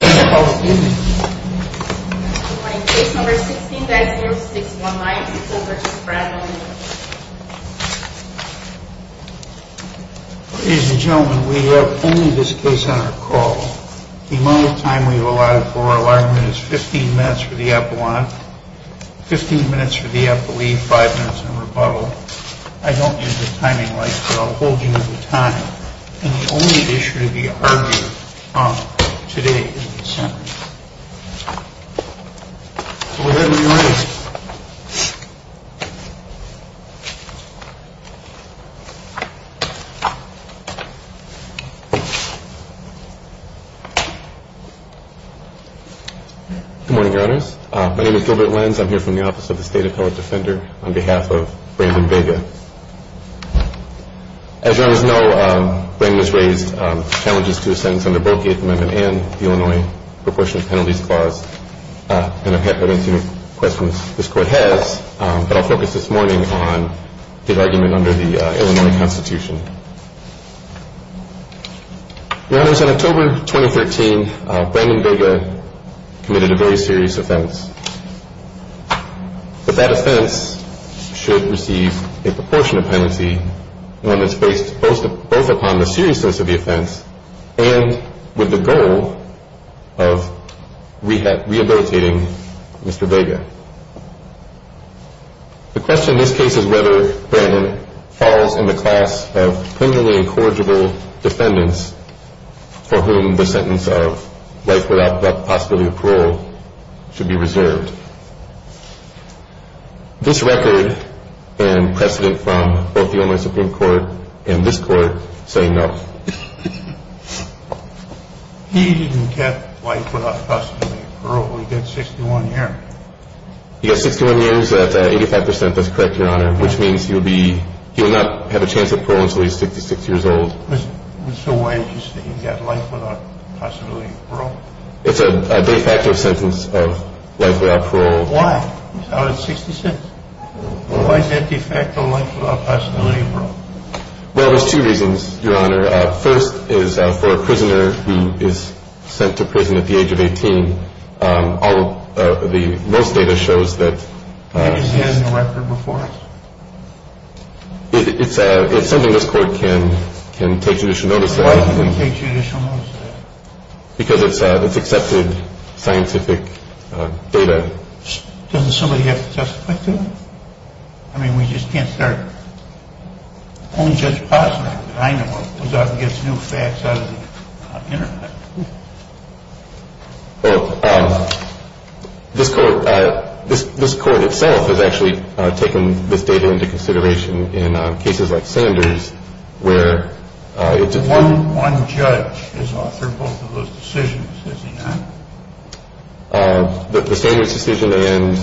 We have only this case on our call. The amount of time we have allotted for our alignment is 15 minutes for the epilogue, 15 minutes for the epileve, 5 minutes in rebuttal. I don't use the timing lights, but I'll hold you to the time. And the only issue to be argued on today is the sentence. Go ahead and be ready. Good morning, Your Honors. My name is Gilbert Lenz. I'm here from the Office of the State Appellate Defender on behalf of Brandon Vega. As Your Honors know, Brandon has raised challenges to a sentence under both the Eighth Amendment and the Illinois Proportionate Penalties Clause. And I've had quite a few questions this Court has, but I'll focus this morning on the argument under the Illinois Constitution. Your Honors, in October 2013, Brandon Vega committed a very serious offense. But that offense should receive a proportionate penalty, one that's based both upon the seriousness of the offense and with the goal of rehabilitating Mr. Vega. The question in this case is whether Brandon falls in the class of criminally incorrigible defendants for whom the sentence of life without possibility of parole should be reserved. This record and precedent from both the Illinois Supreme Court and this Court say no. He didn't get life without possibility of parole. He did 61 years. He got 61 years at 85 percent. That's correct, Your Honor, which means he will not have a chance of parole until he's 66 years old. So why did you say he got life without possibility of parole? It's a de facto sentence of life without parole. Why? Out of 60 cents? Why is that de facto life without possibility of parole? Well, there's two reasons, Your Honor. First is for a prisoner who is sent to prison at the age of 18. All of the most data shows that... He just has no record before him? It's something this Court can take judicial notice of. Why can't we take judicial notice of that? Because it's accepted scientific data. Doesn't somebody have to testify to it? I mean, we just can't start... I know what goes out and gets new facts out of the Internet. Well, this Court itself has actually taken this data into consideration in cases like Sanders where... One judge has authored both of those decisions, has he not? The Sanders decision and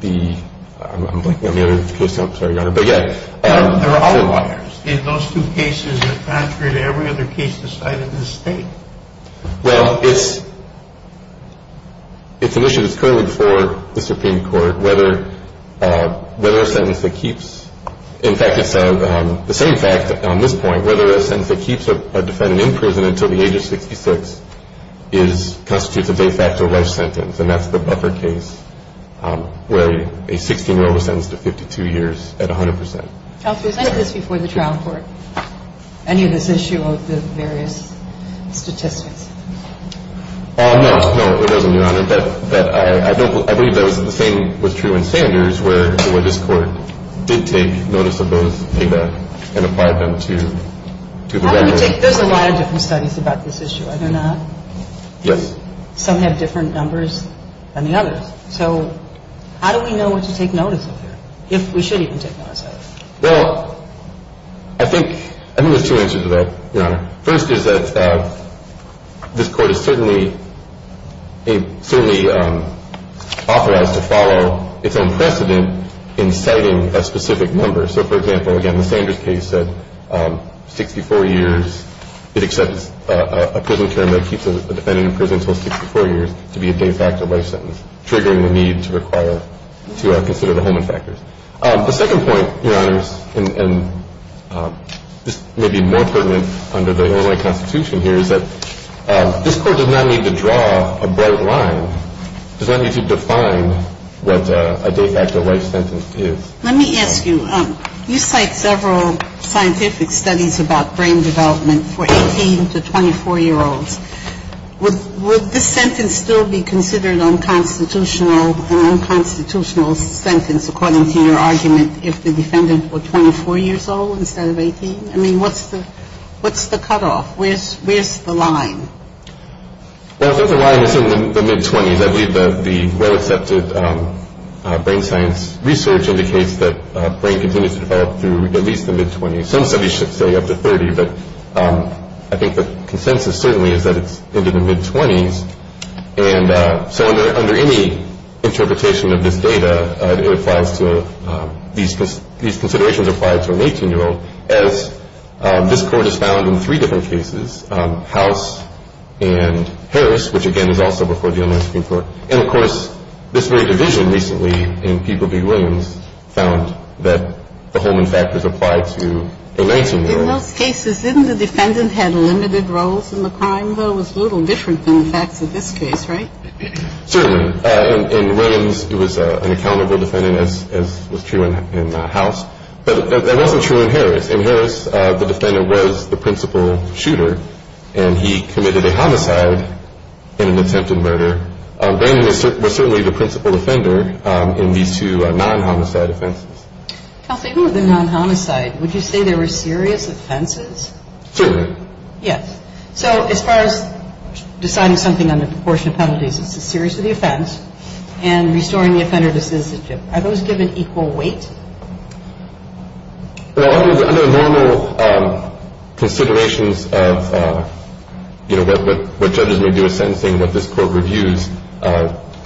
the... I'm blanking on the other case now. I'm sorry, Your Honor. There are outliers in those two cases that are contrary to every other case decided in this State. Well, it's an issue that's currently before the Supreme Court, whether a sentence that keeps... In fact, it's the same fact on this point, whether a sentence that keeps a defendant in prison until the age of 66 constitutes a de facto life sentence. And that's the buffer case where a 16-year-old was sentenced to 52 years at 100 percent. Counselor, is any of this before the trial court, any of this issue of the various statistics? No, no, it wasn't, Your Honor. I believe that the same was true in Sanders where this Court did take notice of those data and applied them to the regular... There's a lot of different studies about this issue, are there not? Yes. And some have different numbers than the others. So how do we know what to take notice of here, if we should even take notice of it? Well, I think there's two answers to that, Your Honor. First is that this Court is certainly authorized to follow its own precedent in citing a specific number. So, for example, again, the Sanders case said 64 years, it accepts a prison term that keeps a defendant in prison until 64 years to be a de facto life sentence, triggering the need to require, to consider the Holman factors. The second point, Your Honors, and this may be more pertinent under the Illinois Constitution here, is that this Court does not need to draw a bright line, does not need to define what a de facto life sentence is. Let me ask you, you cite several scientific studies about brain development for 18 to 24-year-olds. Would this sentence still be considered unconstitutional, an unconstitutional sentence, according to your argument, if the defendant were 24 years old instead of 18? I mean, what's the cutoff? Where's the line? Well, the line is in the mid-20s. I believe that the well-accepted brain science research indicates that brain continues to develop through at least the mid-20s. Some studies should say up to 30, but I think the consensus certainly is that it's into the mid-20s. And so under any interpretation of this data, these considerations apply to an 18-year-old, and I think it's important to note that this Court has found in three different cases, House and Harris, which, again, is also before the Illinois Supreme Court, and of course this very division recently in People v. Williams found that the Holman factors applied to the Lansing murder. In those cases, didn't the defendant have limited roles in the crime, though? It was a little different than the facts of this case, right? Certainly. In Williams, it was an accountable defendant, as was true in House. But that wasn't true in Harris. In Harris, the defendant was the principal shooter, and he committed a homicide in an attempted murder. Brandon was certainly the principal defender in these two non-homicide offenses. Kelsey, who were the non-homicide? Would you say they were serious offenses? Certainly. Yes. So as far as deciding something on the proportion of penalties, it's the seriousness of the offense, and restoring the offender to citizenship. Are those given equal weight? Well, under normal considerations of, you know, what judges may do in sentencing, what this Court reviews,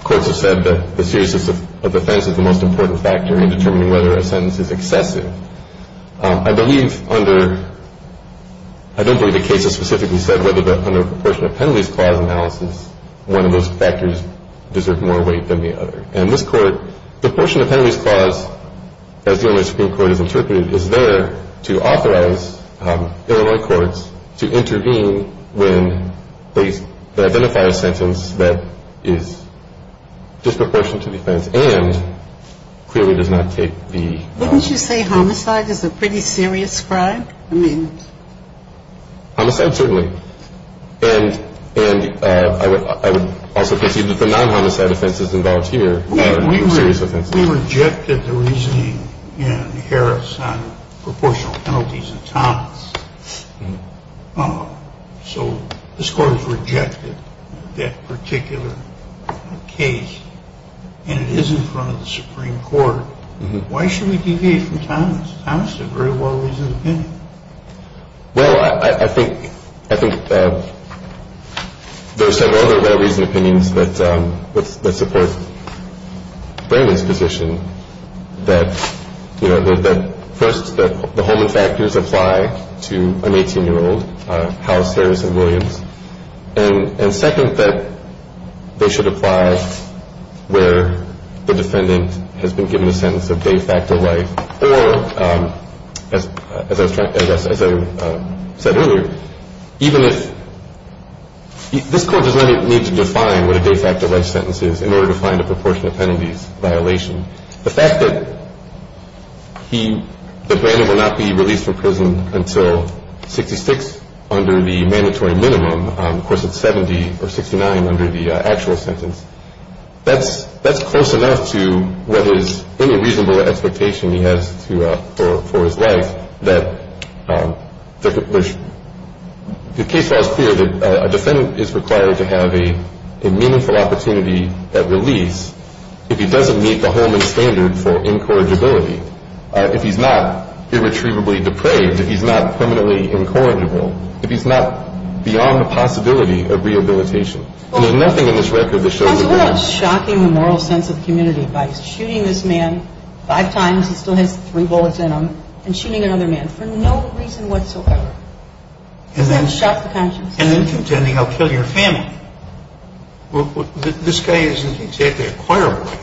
courts have said that the seriousness of offense is the most important factor in determining whether a sentence is excessive. I believe under – I don't believe the case has specifically said whether, but under a proportion of penalties clause analysis, one of those factors deserved more weight than the other. And this Court, the proportion of penalties clause, as the Illinois Supreme Court has interpreted, is there to authorize Illinois courts to intervene when they identify a sentence that is disproportionate to defense and clearly does not take the – Wouldn't you say homicide is a pretty serious crime? I mean – Homicide, certainly. And I would also concede that the non-homicide offense is involved here. We rejected the reasoning in Harris on proportional penalties in Thomas. So this Court has rejected that particular case, and it is in front of the Supreme Court. Why should we deviate from Thomas? Thomas is a very well-reasoned opinion. Well, I think there are several other well-reasoned opinions that support Brayman's position that, you know, that first, the Holman factors apply to an 18-year-old, House, Harris, and Williams, and second, that they should apply where the defendant has been given a sentence of de facto life, or as I said earlier, even if – this Court does not need to define what a de facto life sentence is in order to find a proportion of penalties violation. The fact that he – that Brayman will not be released from prison until 66 under the mandatory minimum, of course, it's 70 or 69 under the actual sentence. That's close enough to what his – any reasonable expectation he has for his life that there's – the case law is clear that a defendant is required to have a meaningful opportunity at release if he doesn't meet the Holman standard for incorrigibility, if he's not irretrievably depraved, if he's not permanently incorrigible, if he's not beyond the possibility of rehabilitation. And there's nothing in this record that shows – Counsel, what about shocking the moral sense of the community by shooting this man five times, he still has three bullets in him, and shooting another man for no reason whatsoever? Doesn't that shock the conscience? And then contending, I'll kill your family. Well, this guy isn't exactly a choir boy.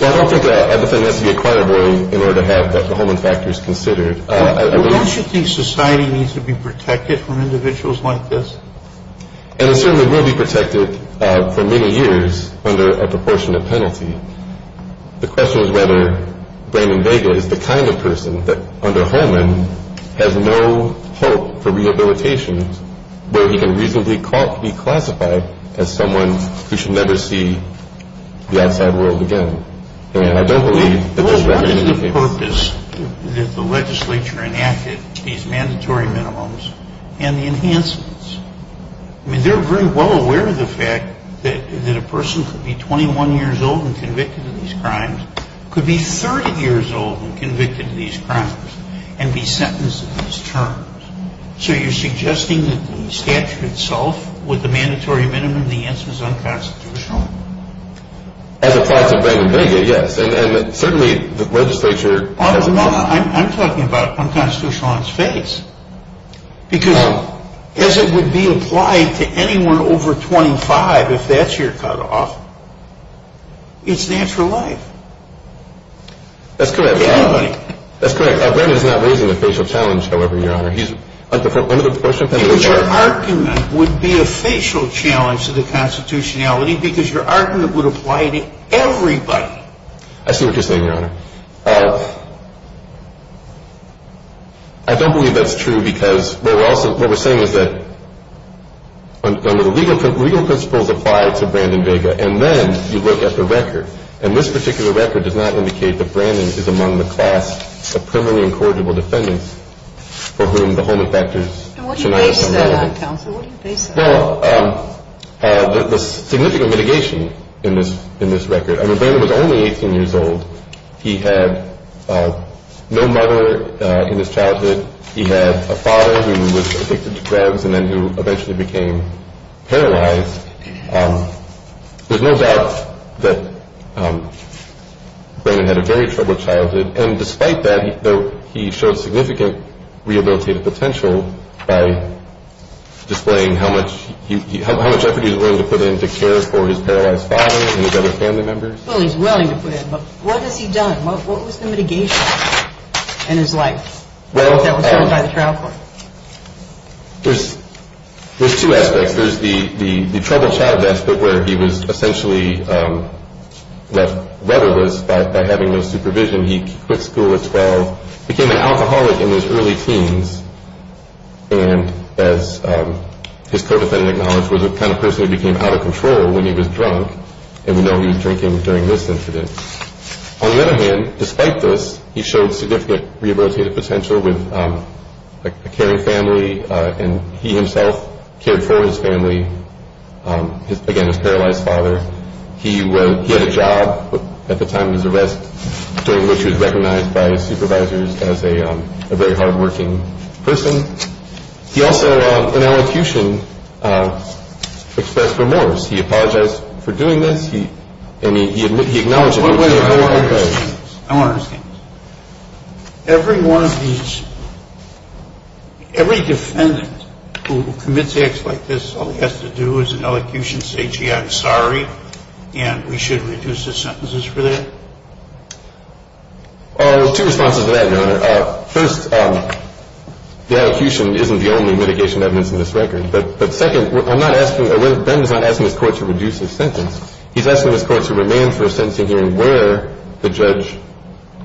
Well, I don't think a defendant has to be a choir boy in order to have the Holman factors considered. Well, don't you think society needs to be protected from individuals like this? And it certainly will be protected for many years under a proportionate penalty. The question is whether Brayman Vega is the kind of person that, under Holman, has no hope for rehabilitation, where he can reasonably be classified as someone who should never see the outside world again. And I don't believe that this record indicates that. Well, what is the purpose that the legislature enacted these mandatory minimums and the enhancements? I mean, they're very well aware of the fact that a person could be 21 years old and convicted of these crimes, could be 30 years old and convicted of these crimes, and be sentenced to these terms. So you're suggesting that the statute itself, with the mandatory minimum, the answer is unconstitutional? As applied to Brayman Vega, yes. And certainly the legislature… I'm talking about unconstitutional on its face. Because as it would be applied to anyone over 25, if that's your cutoff, it's natural life. That's correct. To anybody. That's correct. Brayman is not raising the facial challenge, however, Your Honor. He's… Your argument would be a facial challenge to the constitutionality because your argument would apply to everybody. I see what you're saying, Your Honor. I don't believe that's true because what we're saying is that legal principles apply to Brayman Vega, and then you look at the record. And this particular record does not indicate that Brayman is among the class of permanently incorrigible defendants for whom the Holman Factor is… And what do you base that on, counsel? What do you base that on? Well, the significant mitigation in this record. I mean, Brayman was only 18 years old. He had no mother in his childhood. He had a father who was addicted to drugs and then who eventually became paralyzed. There's no doubt that Brayman had a very troubled childhood. And despite that, he showed significant rehabilitative potential by displaying how much effort he was willing to put in to care for his paralyzed father and his other family members. Well, he's willing to put in, but what has he done? What was the mitigation in his life that was shown by the trial court? There's two aspects. There's the troubled childhood aspect where he was essentially left weatherless by having no supervision. He quit school at 12, became an alcoholic in his early teens, and as his co-defendant acknowledged, was a kind of person who became out of control when he was drunk. And we know he was drinking during this incident. On the other hand, despite this, he showed significant rehabilitative potential with a caring family, and he himself cared for his family, again, his paralyzed father. He had a job at the time of his arrest during which he was recognized by his supervisors as a very hardworking person. He also, in elocution, expressed remorse. He apologized for doing this, and he acknowledged it. I want to understand this. Every defendant who commits acts like this, all he has to do is in elocution say, gee, I'm sorry, and we should reduce his sentences for that? Two responses to that, Your Honor. First, the elocution isn't the only mitigation evidence in this record. The second, I'm not asking, Ben is not asking this Court to reduce his sentence. He's asking this Court to remain for a sentencing hearing where the judge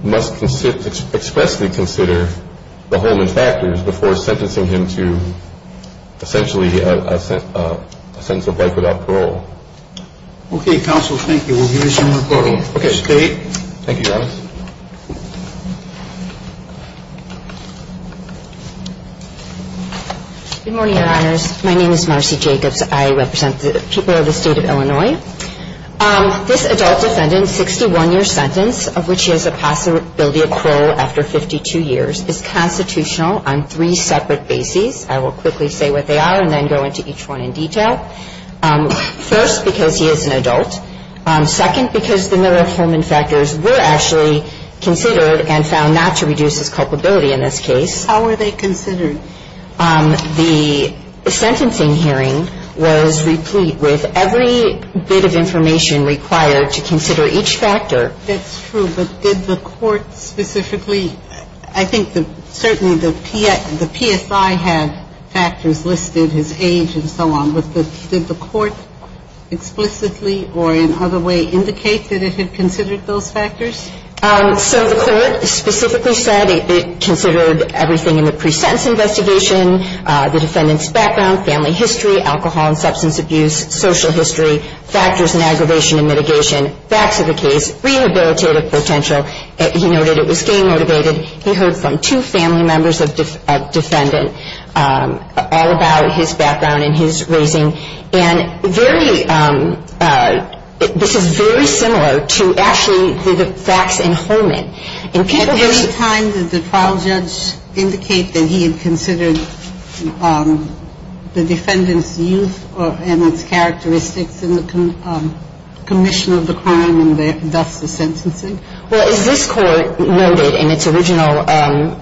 must expressly consider the Holman factors before sentencing him to essentially a sentence of life without parole. Okay, counsel, thank you. We'll give you some more time. Okay. Thank you, Your Honor. Good morning, Your Honors. My name is Marcy Jacobs. I represent the people of the State of Illinois. This adult defendant's 61-year sentence, of which he has a possibility of parole after 52 years, is constitutional on three separate bases. I will quickly say what they are and then go into each one in detail. First, because he is an adult. I'm not asking this Court to reduce his sentence. I'm asking this Court to remain for a sentencing hearing where the judge must expressly consider the Holman factors before sentencing him to essentially a sentence of life Now, I'm not asking this Court to reduce his sentence. I'm asking this Court to remain for a sentencing hearing where the judge must expressly So the Court specifically said it considered everything in the pre-sentence investigation, the defendant's background, family history, alcohol and substance abuse, social history, factors in aggravation and mitigation, facts of the case, rehabilitative potential. He noted it was game-motivated. He heard from two family members of a defendant all about his background and his raising. And very – this is very similar to actually the facts in Holman. At any time did the trial judge indicate that he had considered the defendant's youth and its characteristics in the commission of the crime and thus the sentencing? Well, as this Court noted in its original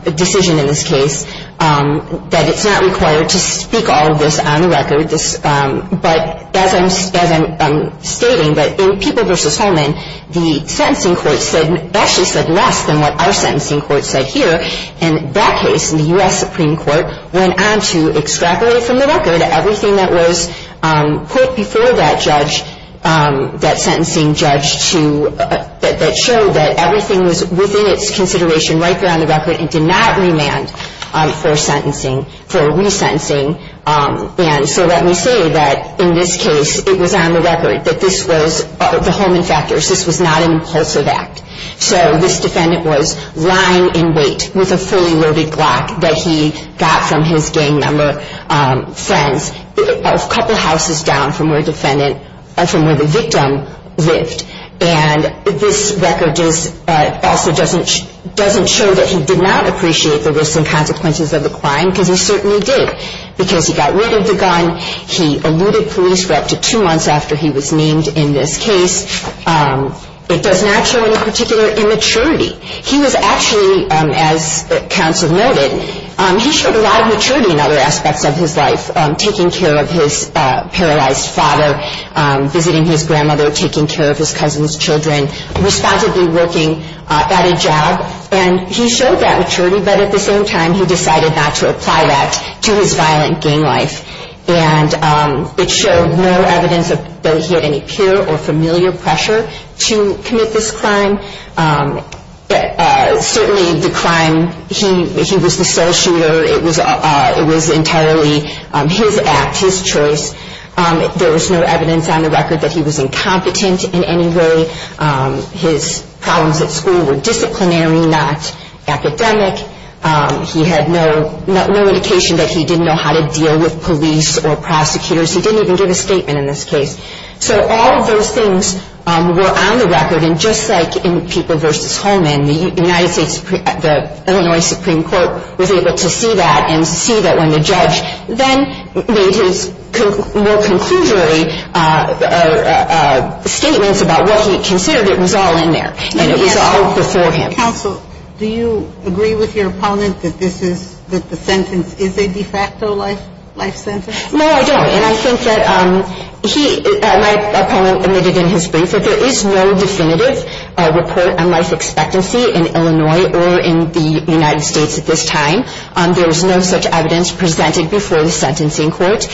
decision in this case, that it's not required to speak all of this on the record. But as I'm stating, that in People v. Holman, the sentencing court said – actually said less than what our sentencing court said here. In that case, the U.S. Supreme Court went on to extract away from the record everything that was put before that judge – that sentencing judge to – that showed that everything was within its consideration right there on the record and did not remand for sentencing – for resentencing. And so let me say that in this case, it was on the record that this was – the Holman factors, this was not an impulsive act. So this defendant was lying in wait with a fully loaded Glock that he got from his gang member friends a couple houses down from where the victim lived. And this record also doesn't show that he did not appreciate the risks and consequences of the crime because he certainly did. Because he got rid of the gun, he eluded police for up to two months after he was named in this case. It does not show any particular immaturity. He was actually, as counsel noted, he showed a lot of maturity in other aspects of his life. Taking care of his paralyzed father, visiting his grandmother, taking care of his cousin's children, responsibly working at a job. And he showed that maturity, but at the same time he decided not to apply that to his violent gang life. And it showed no evidence that he had any peer or familiar pressure to commit this crime. Certainly the crime, he was the sole shooter. It was entirely his act, his choice. There was no evidence on the record that he was incompetent in any way. His problems at school were disciplinary, not academic. He had no indication that he didn't know how to deal with police or prosecutors. He didn't even give a statement in this case. So all of those things were on the record. And just like in People v. Holman, the United States, the Illinois Supreme Court was able to see that and see that when the judge then made his more conclusory statements about what he considered, it was all in there and it was all before him. Counsel, do you agree with your opponent that this is, that the sentence is a de facto life sentence? No, I don't. And I think that he, my opponent, admitted in his brief that there is no definitive report on life expectancy in Illinois or in the United States at this time. There was no such evidence presented before the sentencing court.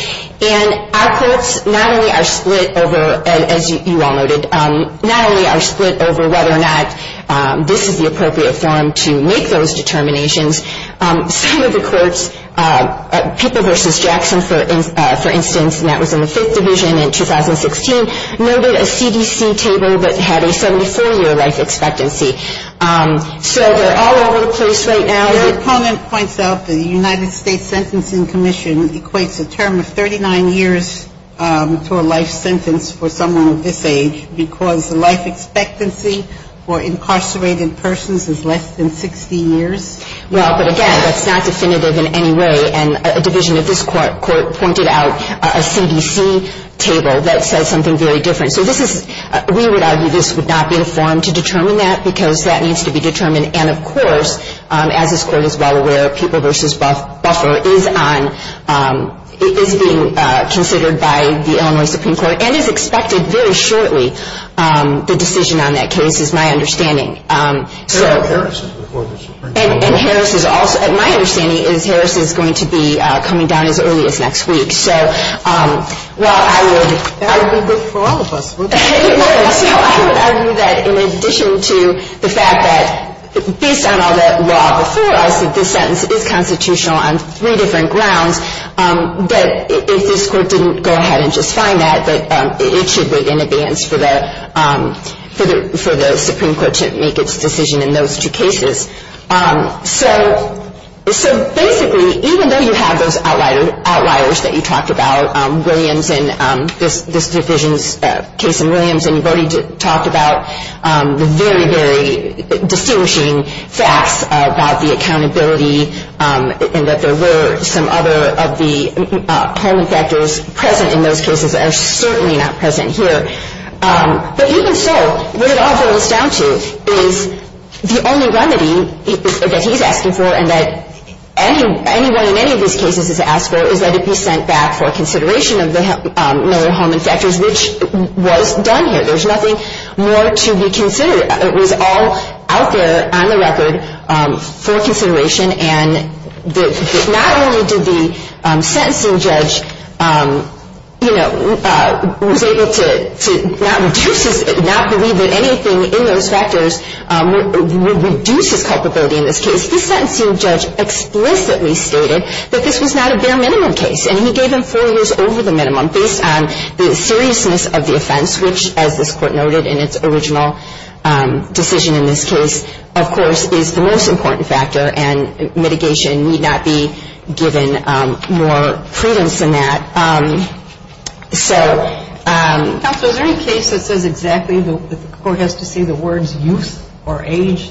And our courts not only are split over, as you all noted, not only are split over whether or not this is the appropriate forum to make those determinations, some of the courts, People v. Jackson, for instance, and that was in the Fifth Division in 2016, noted a CDC table that had a 74-year life expectancy. So they're all over the place right now. Your opponent points out the United States Sentencing Commission equates a term of 39 years to a life sentence for someone of this age because the life expectancy for incarcerated persons is less than 60 years. Well, but again, that's not definitive in any way. And a division of this court pointed out a CDC table that says something very different. So this is, we would argue this would not be a forum to determine that because that needs to be determined. And, of course, as this court is well aware, People v. Buffer is on, is being considered by the Illinois Supreme Court and is expected very shortly, the decision on that case is my understanding. And Harris is also, my understanding is Harris is going to be coming down as early as next week. So while I would. That would be good for all of us. So I would argue that in addition to the fact that based on all that law before us, that this sentence is constitutional on three different grounds, that if this court didn't go ahead and just find that, that it should wait in advance for the Supreme Court to make its decision in those two cases. So basically, even though you have those outliers that you talked about, Williams and this division's case in Williams, and you've already talked about the very, very distinguishing facts about the accountability and that there were some other of the home infectors present in those cases that are certainly not present here. But even so, what it all boils down to is the only remedy that he's asking for and that anyone in any of these cases has asked for is that it be sent back for consideration of the other home infectors, which was done here. There's nothing more to be considered. It was all out there on the record for consideration. And not only did the sentencing judge, you know, was able to not believe that anything in those factors would reduce his culpability in this case. The sentencing judge explicitly stated that this was not a bare minimum case, and he gave him four years over the minimum based on the seriousness of the offense, which, as this Court noted in its original decision in this case, of course, is the most important factor, and mitigation need not be given more credence than that. So... Counsel, is there any case that says exactly that the Court has to say the words youth or age?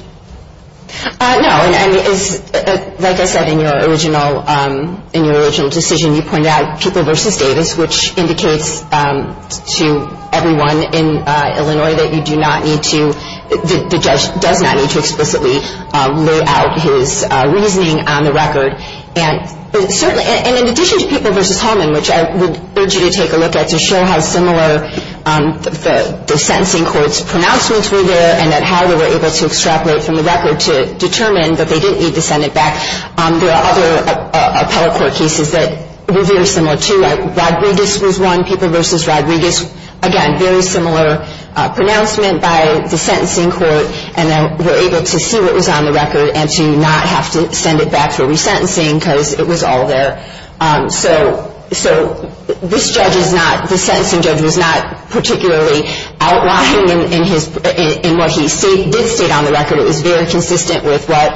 No. Like I said in your original decision, you pointed out people versus Davis, which indicates to everyone in Illinois that you do not need to, the judge does not need to explicitly lay out his reasoning on the record. And certainly, and in addition to people versus Holman, which I would urge you to take a look at to show how similar the sentencing court's pronouncements were there and that how they were able to extrapolate from the record to determine that they didn't need to send it back, there are other appellate court cases that were very similar, too. Rodriguez was one, people versus Rodriguez. Again, very similar pronouncement by the sentencing court, and they were able to see what was on the record and to not have to send it back for resentencing because it was all there. So this judge is not, this sentencing judge was not particularly outlined in what he did state on the record. It was very consistent with what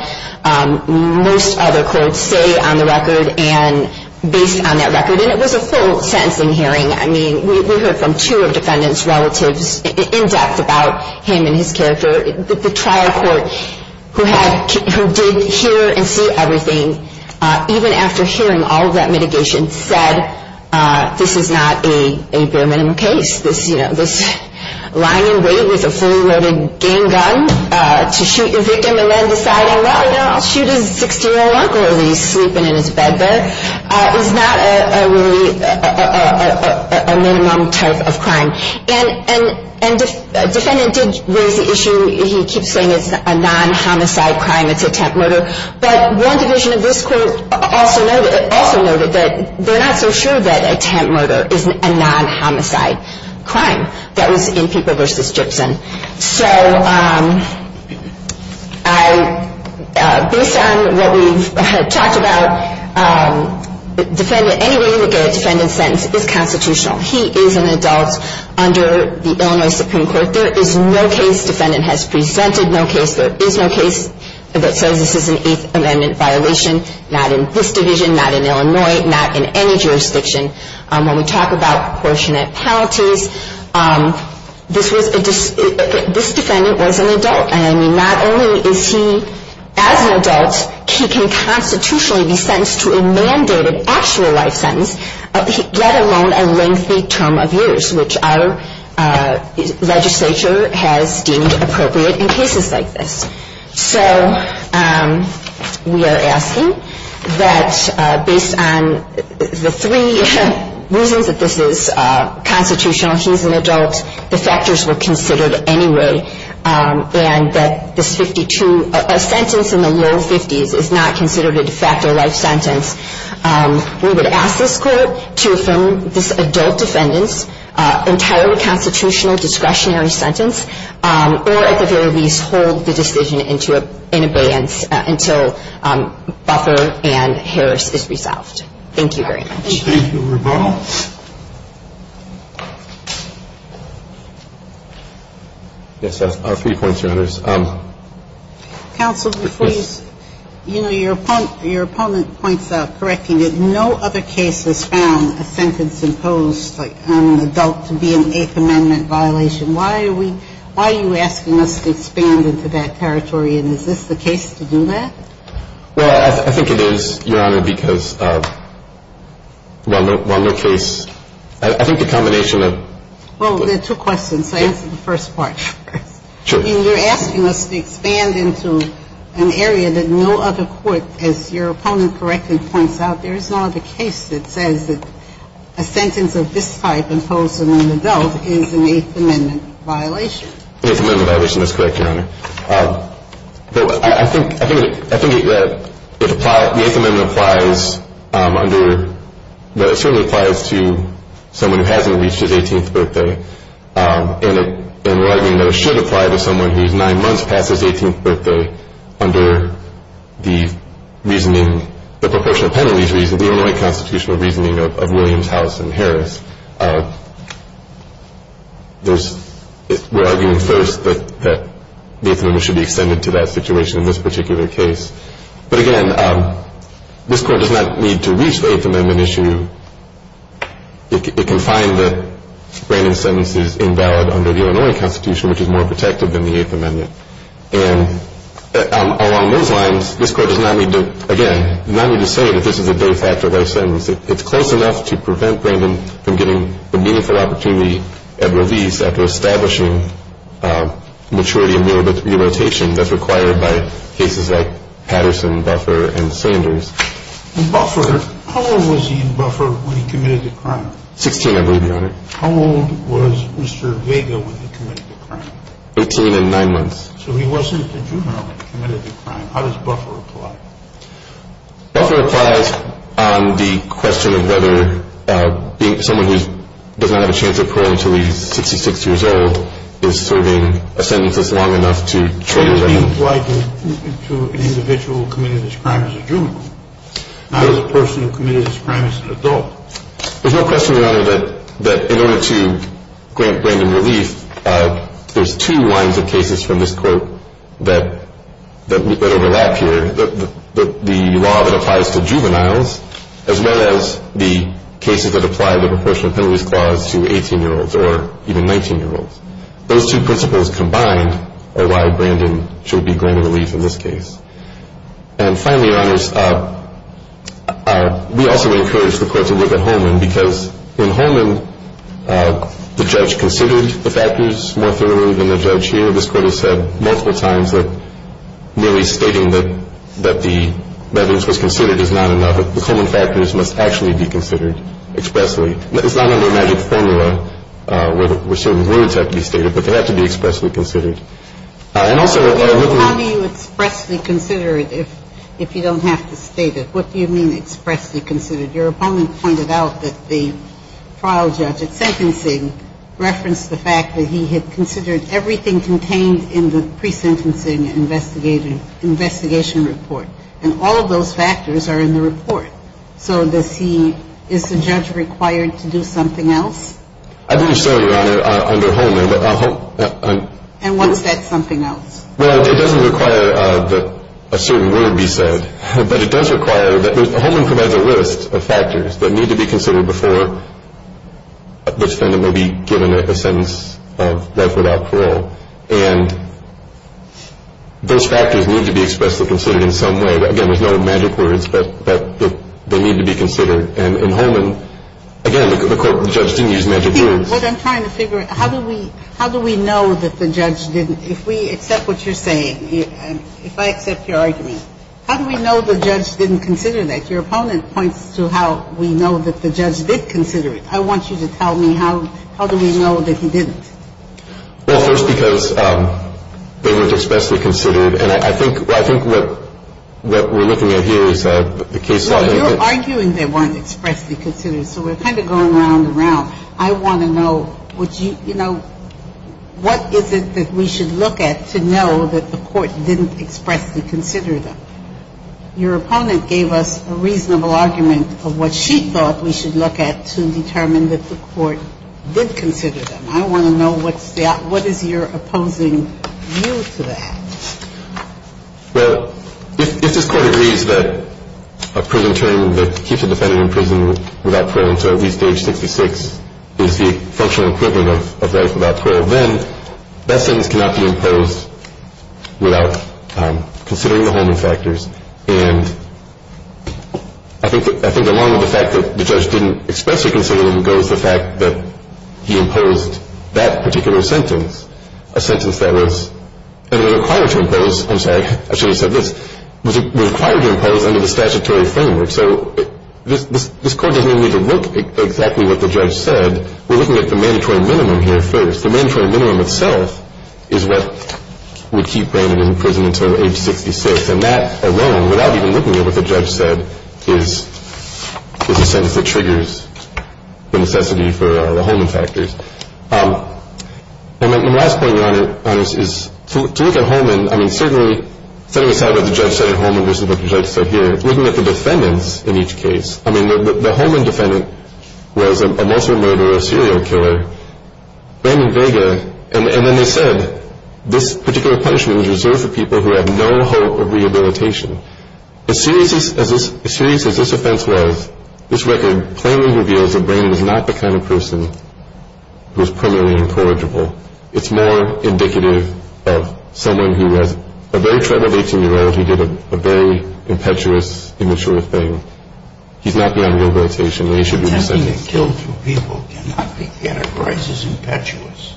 most other courts say on the record and based on that record. And it was a full sentencing hearing. I mean, we heard from two of defendants' relatives in depth about him and his character. The trial court who had, who did hear and see everything, even after hearing all of that mitigation, said this is not a bare minimum case. This, you know, this lying in wait with a fully loaded game gun to shoot your victim and then deciding, well, you know, I'll shoot his 60-year-old uncle as he's sleeping in his bed there, is not really a minimum type of crime. And the defendant did raise the issue. He keeps saying it's a non-homicide crime, it's a temp murder. But one division of this court also noted that they're not so sure that a temp murder is a non-homicide crime. That was in people versus Gibson. So based on what we've talked about, any way you look at a defendant's sentence is constitutional. He is an adult under the Illinois Supreme Court. There is no case defendant has presented, no case there is no case that says this is an Eighth Amendment violation, not in this division, not in Illinois, not in any jurisdiction. When we talk about proportionate penalties, this defendant was an adult. And not only is he, as an adult, he can constitutionally be sentenced to a mandated actual life sentence, let alone a lengthy term of years, which our legislature has deemed appropriate in cases like this. So we are asking that based on the three reasons that this is constitutional, he's an adult, the factors were considered anyway, and that this 52, a sentence in the low 50s is not considered a de facto life sentence. We would ask this court to affirm this adult defendant's entirely constitutional discretionary sentence, or at the very least hold the decision in abeyance until Buffer and Harris is resolved. Thank you very much. Thank you, Rebecca. Yes, I have three points, Your Honors. Counsel, before you, you know, your opponent points out, correcting it, no other case has found a sentence imposed on an adult to be an Eighth Amendment violation. Why are we – why are you asking us to expand into that territory, and is this the case to do that? Well, I think it is, Your Honor, because while no case – I think the combination of – Well, there are two questions, so I'll answer the first part first. Sure. I mean, you're asking us to expand into an area that no other court, as your opponent correctly points out, there is no other case that says that a sentence of this type imposed on an adult is an Eighth Amendment violation. An Eighth Amendment violation, that's correct, Your Honor. But I think – I think that it applies – the Eighth Amendment applies under – that it certainly applies to someone who hasn't reached his 18th birthday, and we're arguing that it should apply to someone who's nine months past his 18th birthday under the reasoning – the proportional penalties reasoning, the Illinois constitutional reasoning of Williams, House, and Harris. There's – we're arguing first that the Eighth Amendment should be extended to that situation in this particular case. But again, this Court does not need to reach the Eighth Amendment issue. It can find that Brandon's sentence is invalid under the Illinois Constitution, which is more protective than the Eighth Amendment. And along those lines, this Court does not need to – again, does not need to say that this is a de facto life sentence. It's close enough to prevent Brandon from getting the meaningful opportunity at release after establishing maturity and re-rotation that's required by cases like Patterson, Buffer, and Sanders. In Buffer, how old was he in Buffer when he committed the crime? Sixteen, I believe, Your Honor. How old was Mr. Vega when he committed the crime? Eighteen and nine months. So he wasn't a juvenile when he committed the crime. How does Buffer apply? Buffer applies on the question of whether someone who does not have a chance of parole until he's 66 years old is serving a sentence that's long enough to trade with anyone. How does he apply to an individual who committed this crime as a juvenile, not a person who committed this crime as an adult? There's no question, Your Honor, that in order to grant Brandon relief, there's two lines of cases from this Court that overlap here. The law that applies to juveniles, as well as the cases that apply the Proportional Penalties Clause to 18-year-olds or even 19-year-olds. Those two principles combined are why Brandon should be granted relief in this case. And finally, Your Honors, we also encourage the Court to look at Holman because in Holman the judge considered the factors more thoroughly than the judge here. This Court has said multiple times that merely stating that the evidence was considered is not enough. The Holman factors must actually be considered expressly. It's not under a magic formula where certain words have to be stated, but they have to be expressly considered. How do you expressly consider it if you don't have to state it? What do you mean expressly considered? Your opponent pointed out that the trial judge at sentencing referenced the fact that he had considered everything contained in the pre-sentencing investigation report, and all of those factors are in the report. So is the judge required to do something else? I don't understand, Your Honor, under Holman. And what's that something else? Well, it doesn't require that a certain word be said, but it does require that Holman provides a list of factors that need to be considered before the defendant will be given a sentence of life without parole. And those factors need to be expressly considered in some way. Again, there's no magic words, but they need to be considered. And in Holman, again, the court judge didn't use magic words. What I'm trying to figure out, how do we know that the judge didn't? If we accept what you're saying, if I accept your argument, how do we know the judge didn't consider that? Your opponent points to how we know that the judge did consider it. I want you to tell me how do we know that he didn't? Well, first, because they were expressly considered. And I think what we're looking at here is the case law. You're arguing they weren't expressly considered, so we're kind of going round and round. I want to know, you know, what is it that we should look at to know that the court didn't expressly consider them? Your opponent gave us a reasonable argument of what she thought we should look at to determine that the court did consider them. I want to know what is your opposing view to that. Well, if this Court agrees that a prison term that keeps a defendant in prison without is the functional equivalent of life without parole, then that sentence cannot be imposed without considering the homing factors. And I think along with the fact that the judge didn't expressly consider them goes the fact that he imposed that particular sentence, a sentence that was required to impose. I'm sorry. I should have said this. It was required to impose under the statutory framework. So this Court doesn't even need to look at exactly what the judge said. We're looking at the mandatory minimum here first. The mandatory minimum itself is what would keep Brandon in prison until age 66, and that alone, without even looking at what the judge said, is a sentence that triggers the necessity for the homing factors. And my last point, Your Honor, is to look at homing, I mean, certainly, setting aside what the judge said at homing versus what the judge said here, looking at the defendants in each case. I mean, the homing defendant was a murderer, a serial killer, Brandon Vega, and then they said this particular punishment was reserved for people who have no hope of rehabilitation. As serious as this offense was, this record plainly reveals that Brandon is not the kind of person who is primarily incorrigible. It's more indicative of someone who has a very troubled 18-year-old who did a very impetuous, immature thing. He's not beyond rehabilitation, and he should be sentenced. Attempting to kill two people cannot be categorized as impetuous.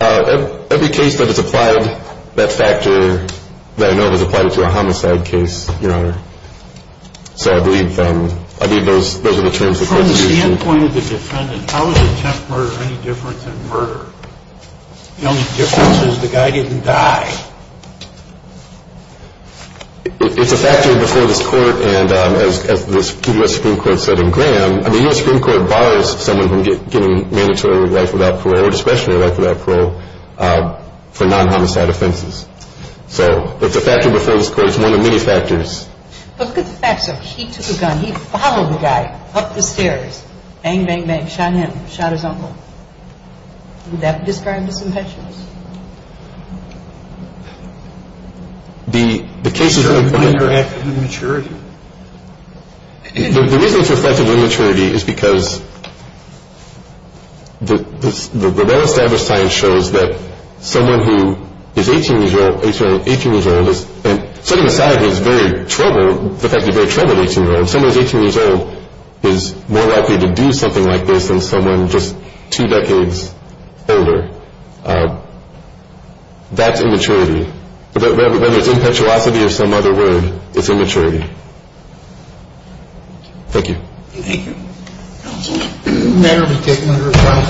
Every case that has applied that factor that I know of has applied it to a homicide case, Your Honor. So I believe those are the terms of the prosecution. From the standpoint of the defendant, how is attempt murder any different than murder? The only difference is the guy didn't die. It's a factor before this Court, and as the U.S. Supreme Court said in Graham, the U.S. Supreme Court bars someone from getting mandatory life without parole or discretionary life without parole for non-homicide offenses. So it's a factor before this Court. It's one of many factors. But look at the facts of it. He took a gun. He followed the guy up the stairs. Bang, bang, bang. Shot him. Shot his uncle. Would that describe as impetuous? The case is really fine. It's a factor of immaturity. The reason it's a factor of immaturity is because the well-established science shows that someone who is 18 years old is more likely to do something like this than someone just two decades older. That's immaturity. Whether it's impetuosity or some other word, it's immaturity. Thank you. Thank you. Counsel? The matter has been taken under a trial.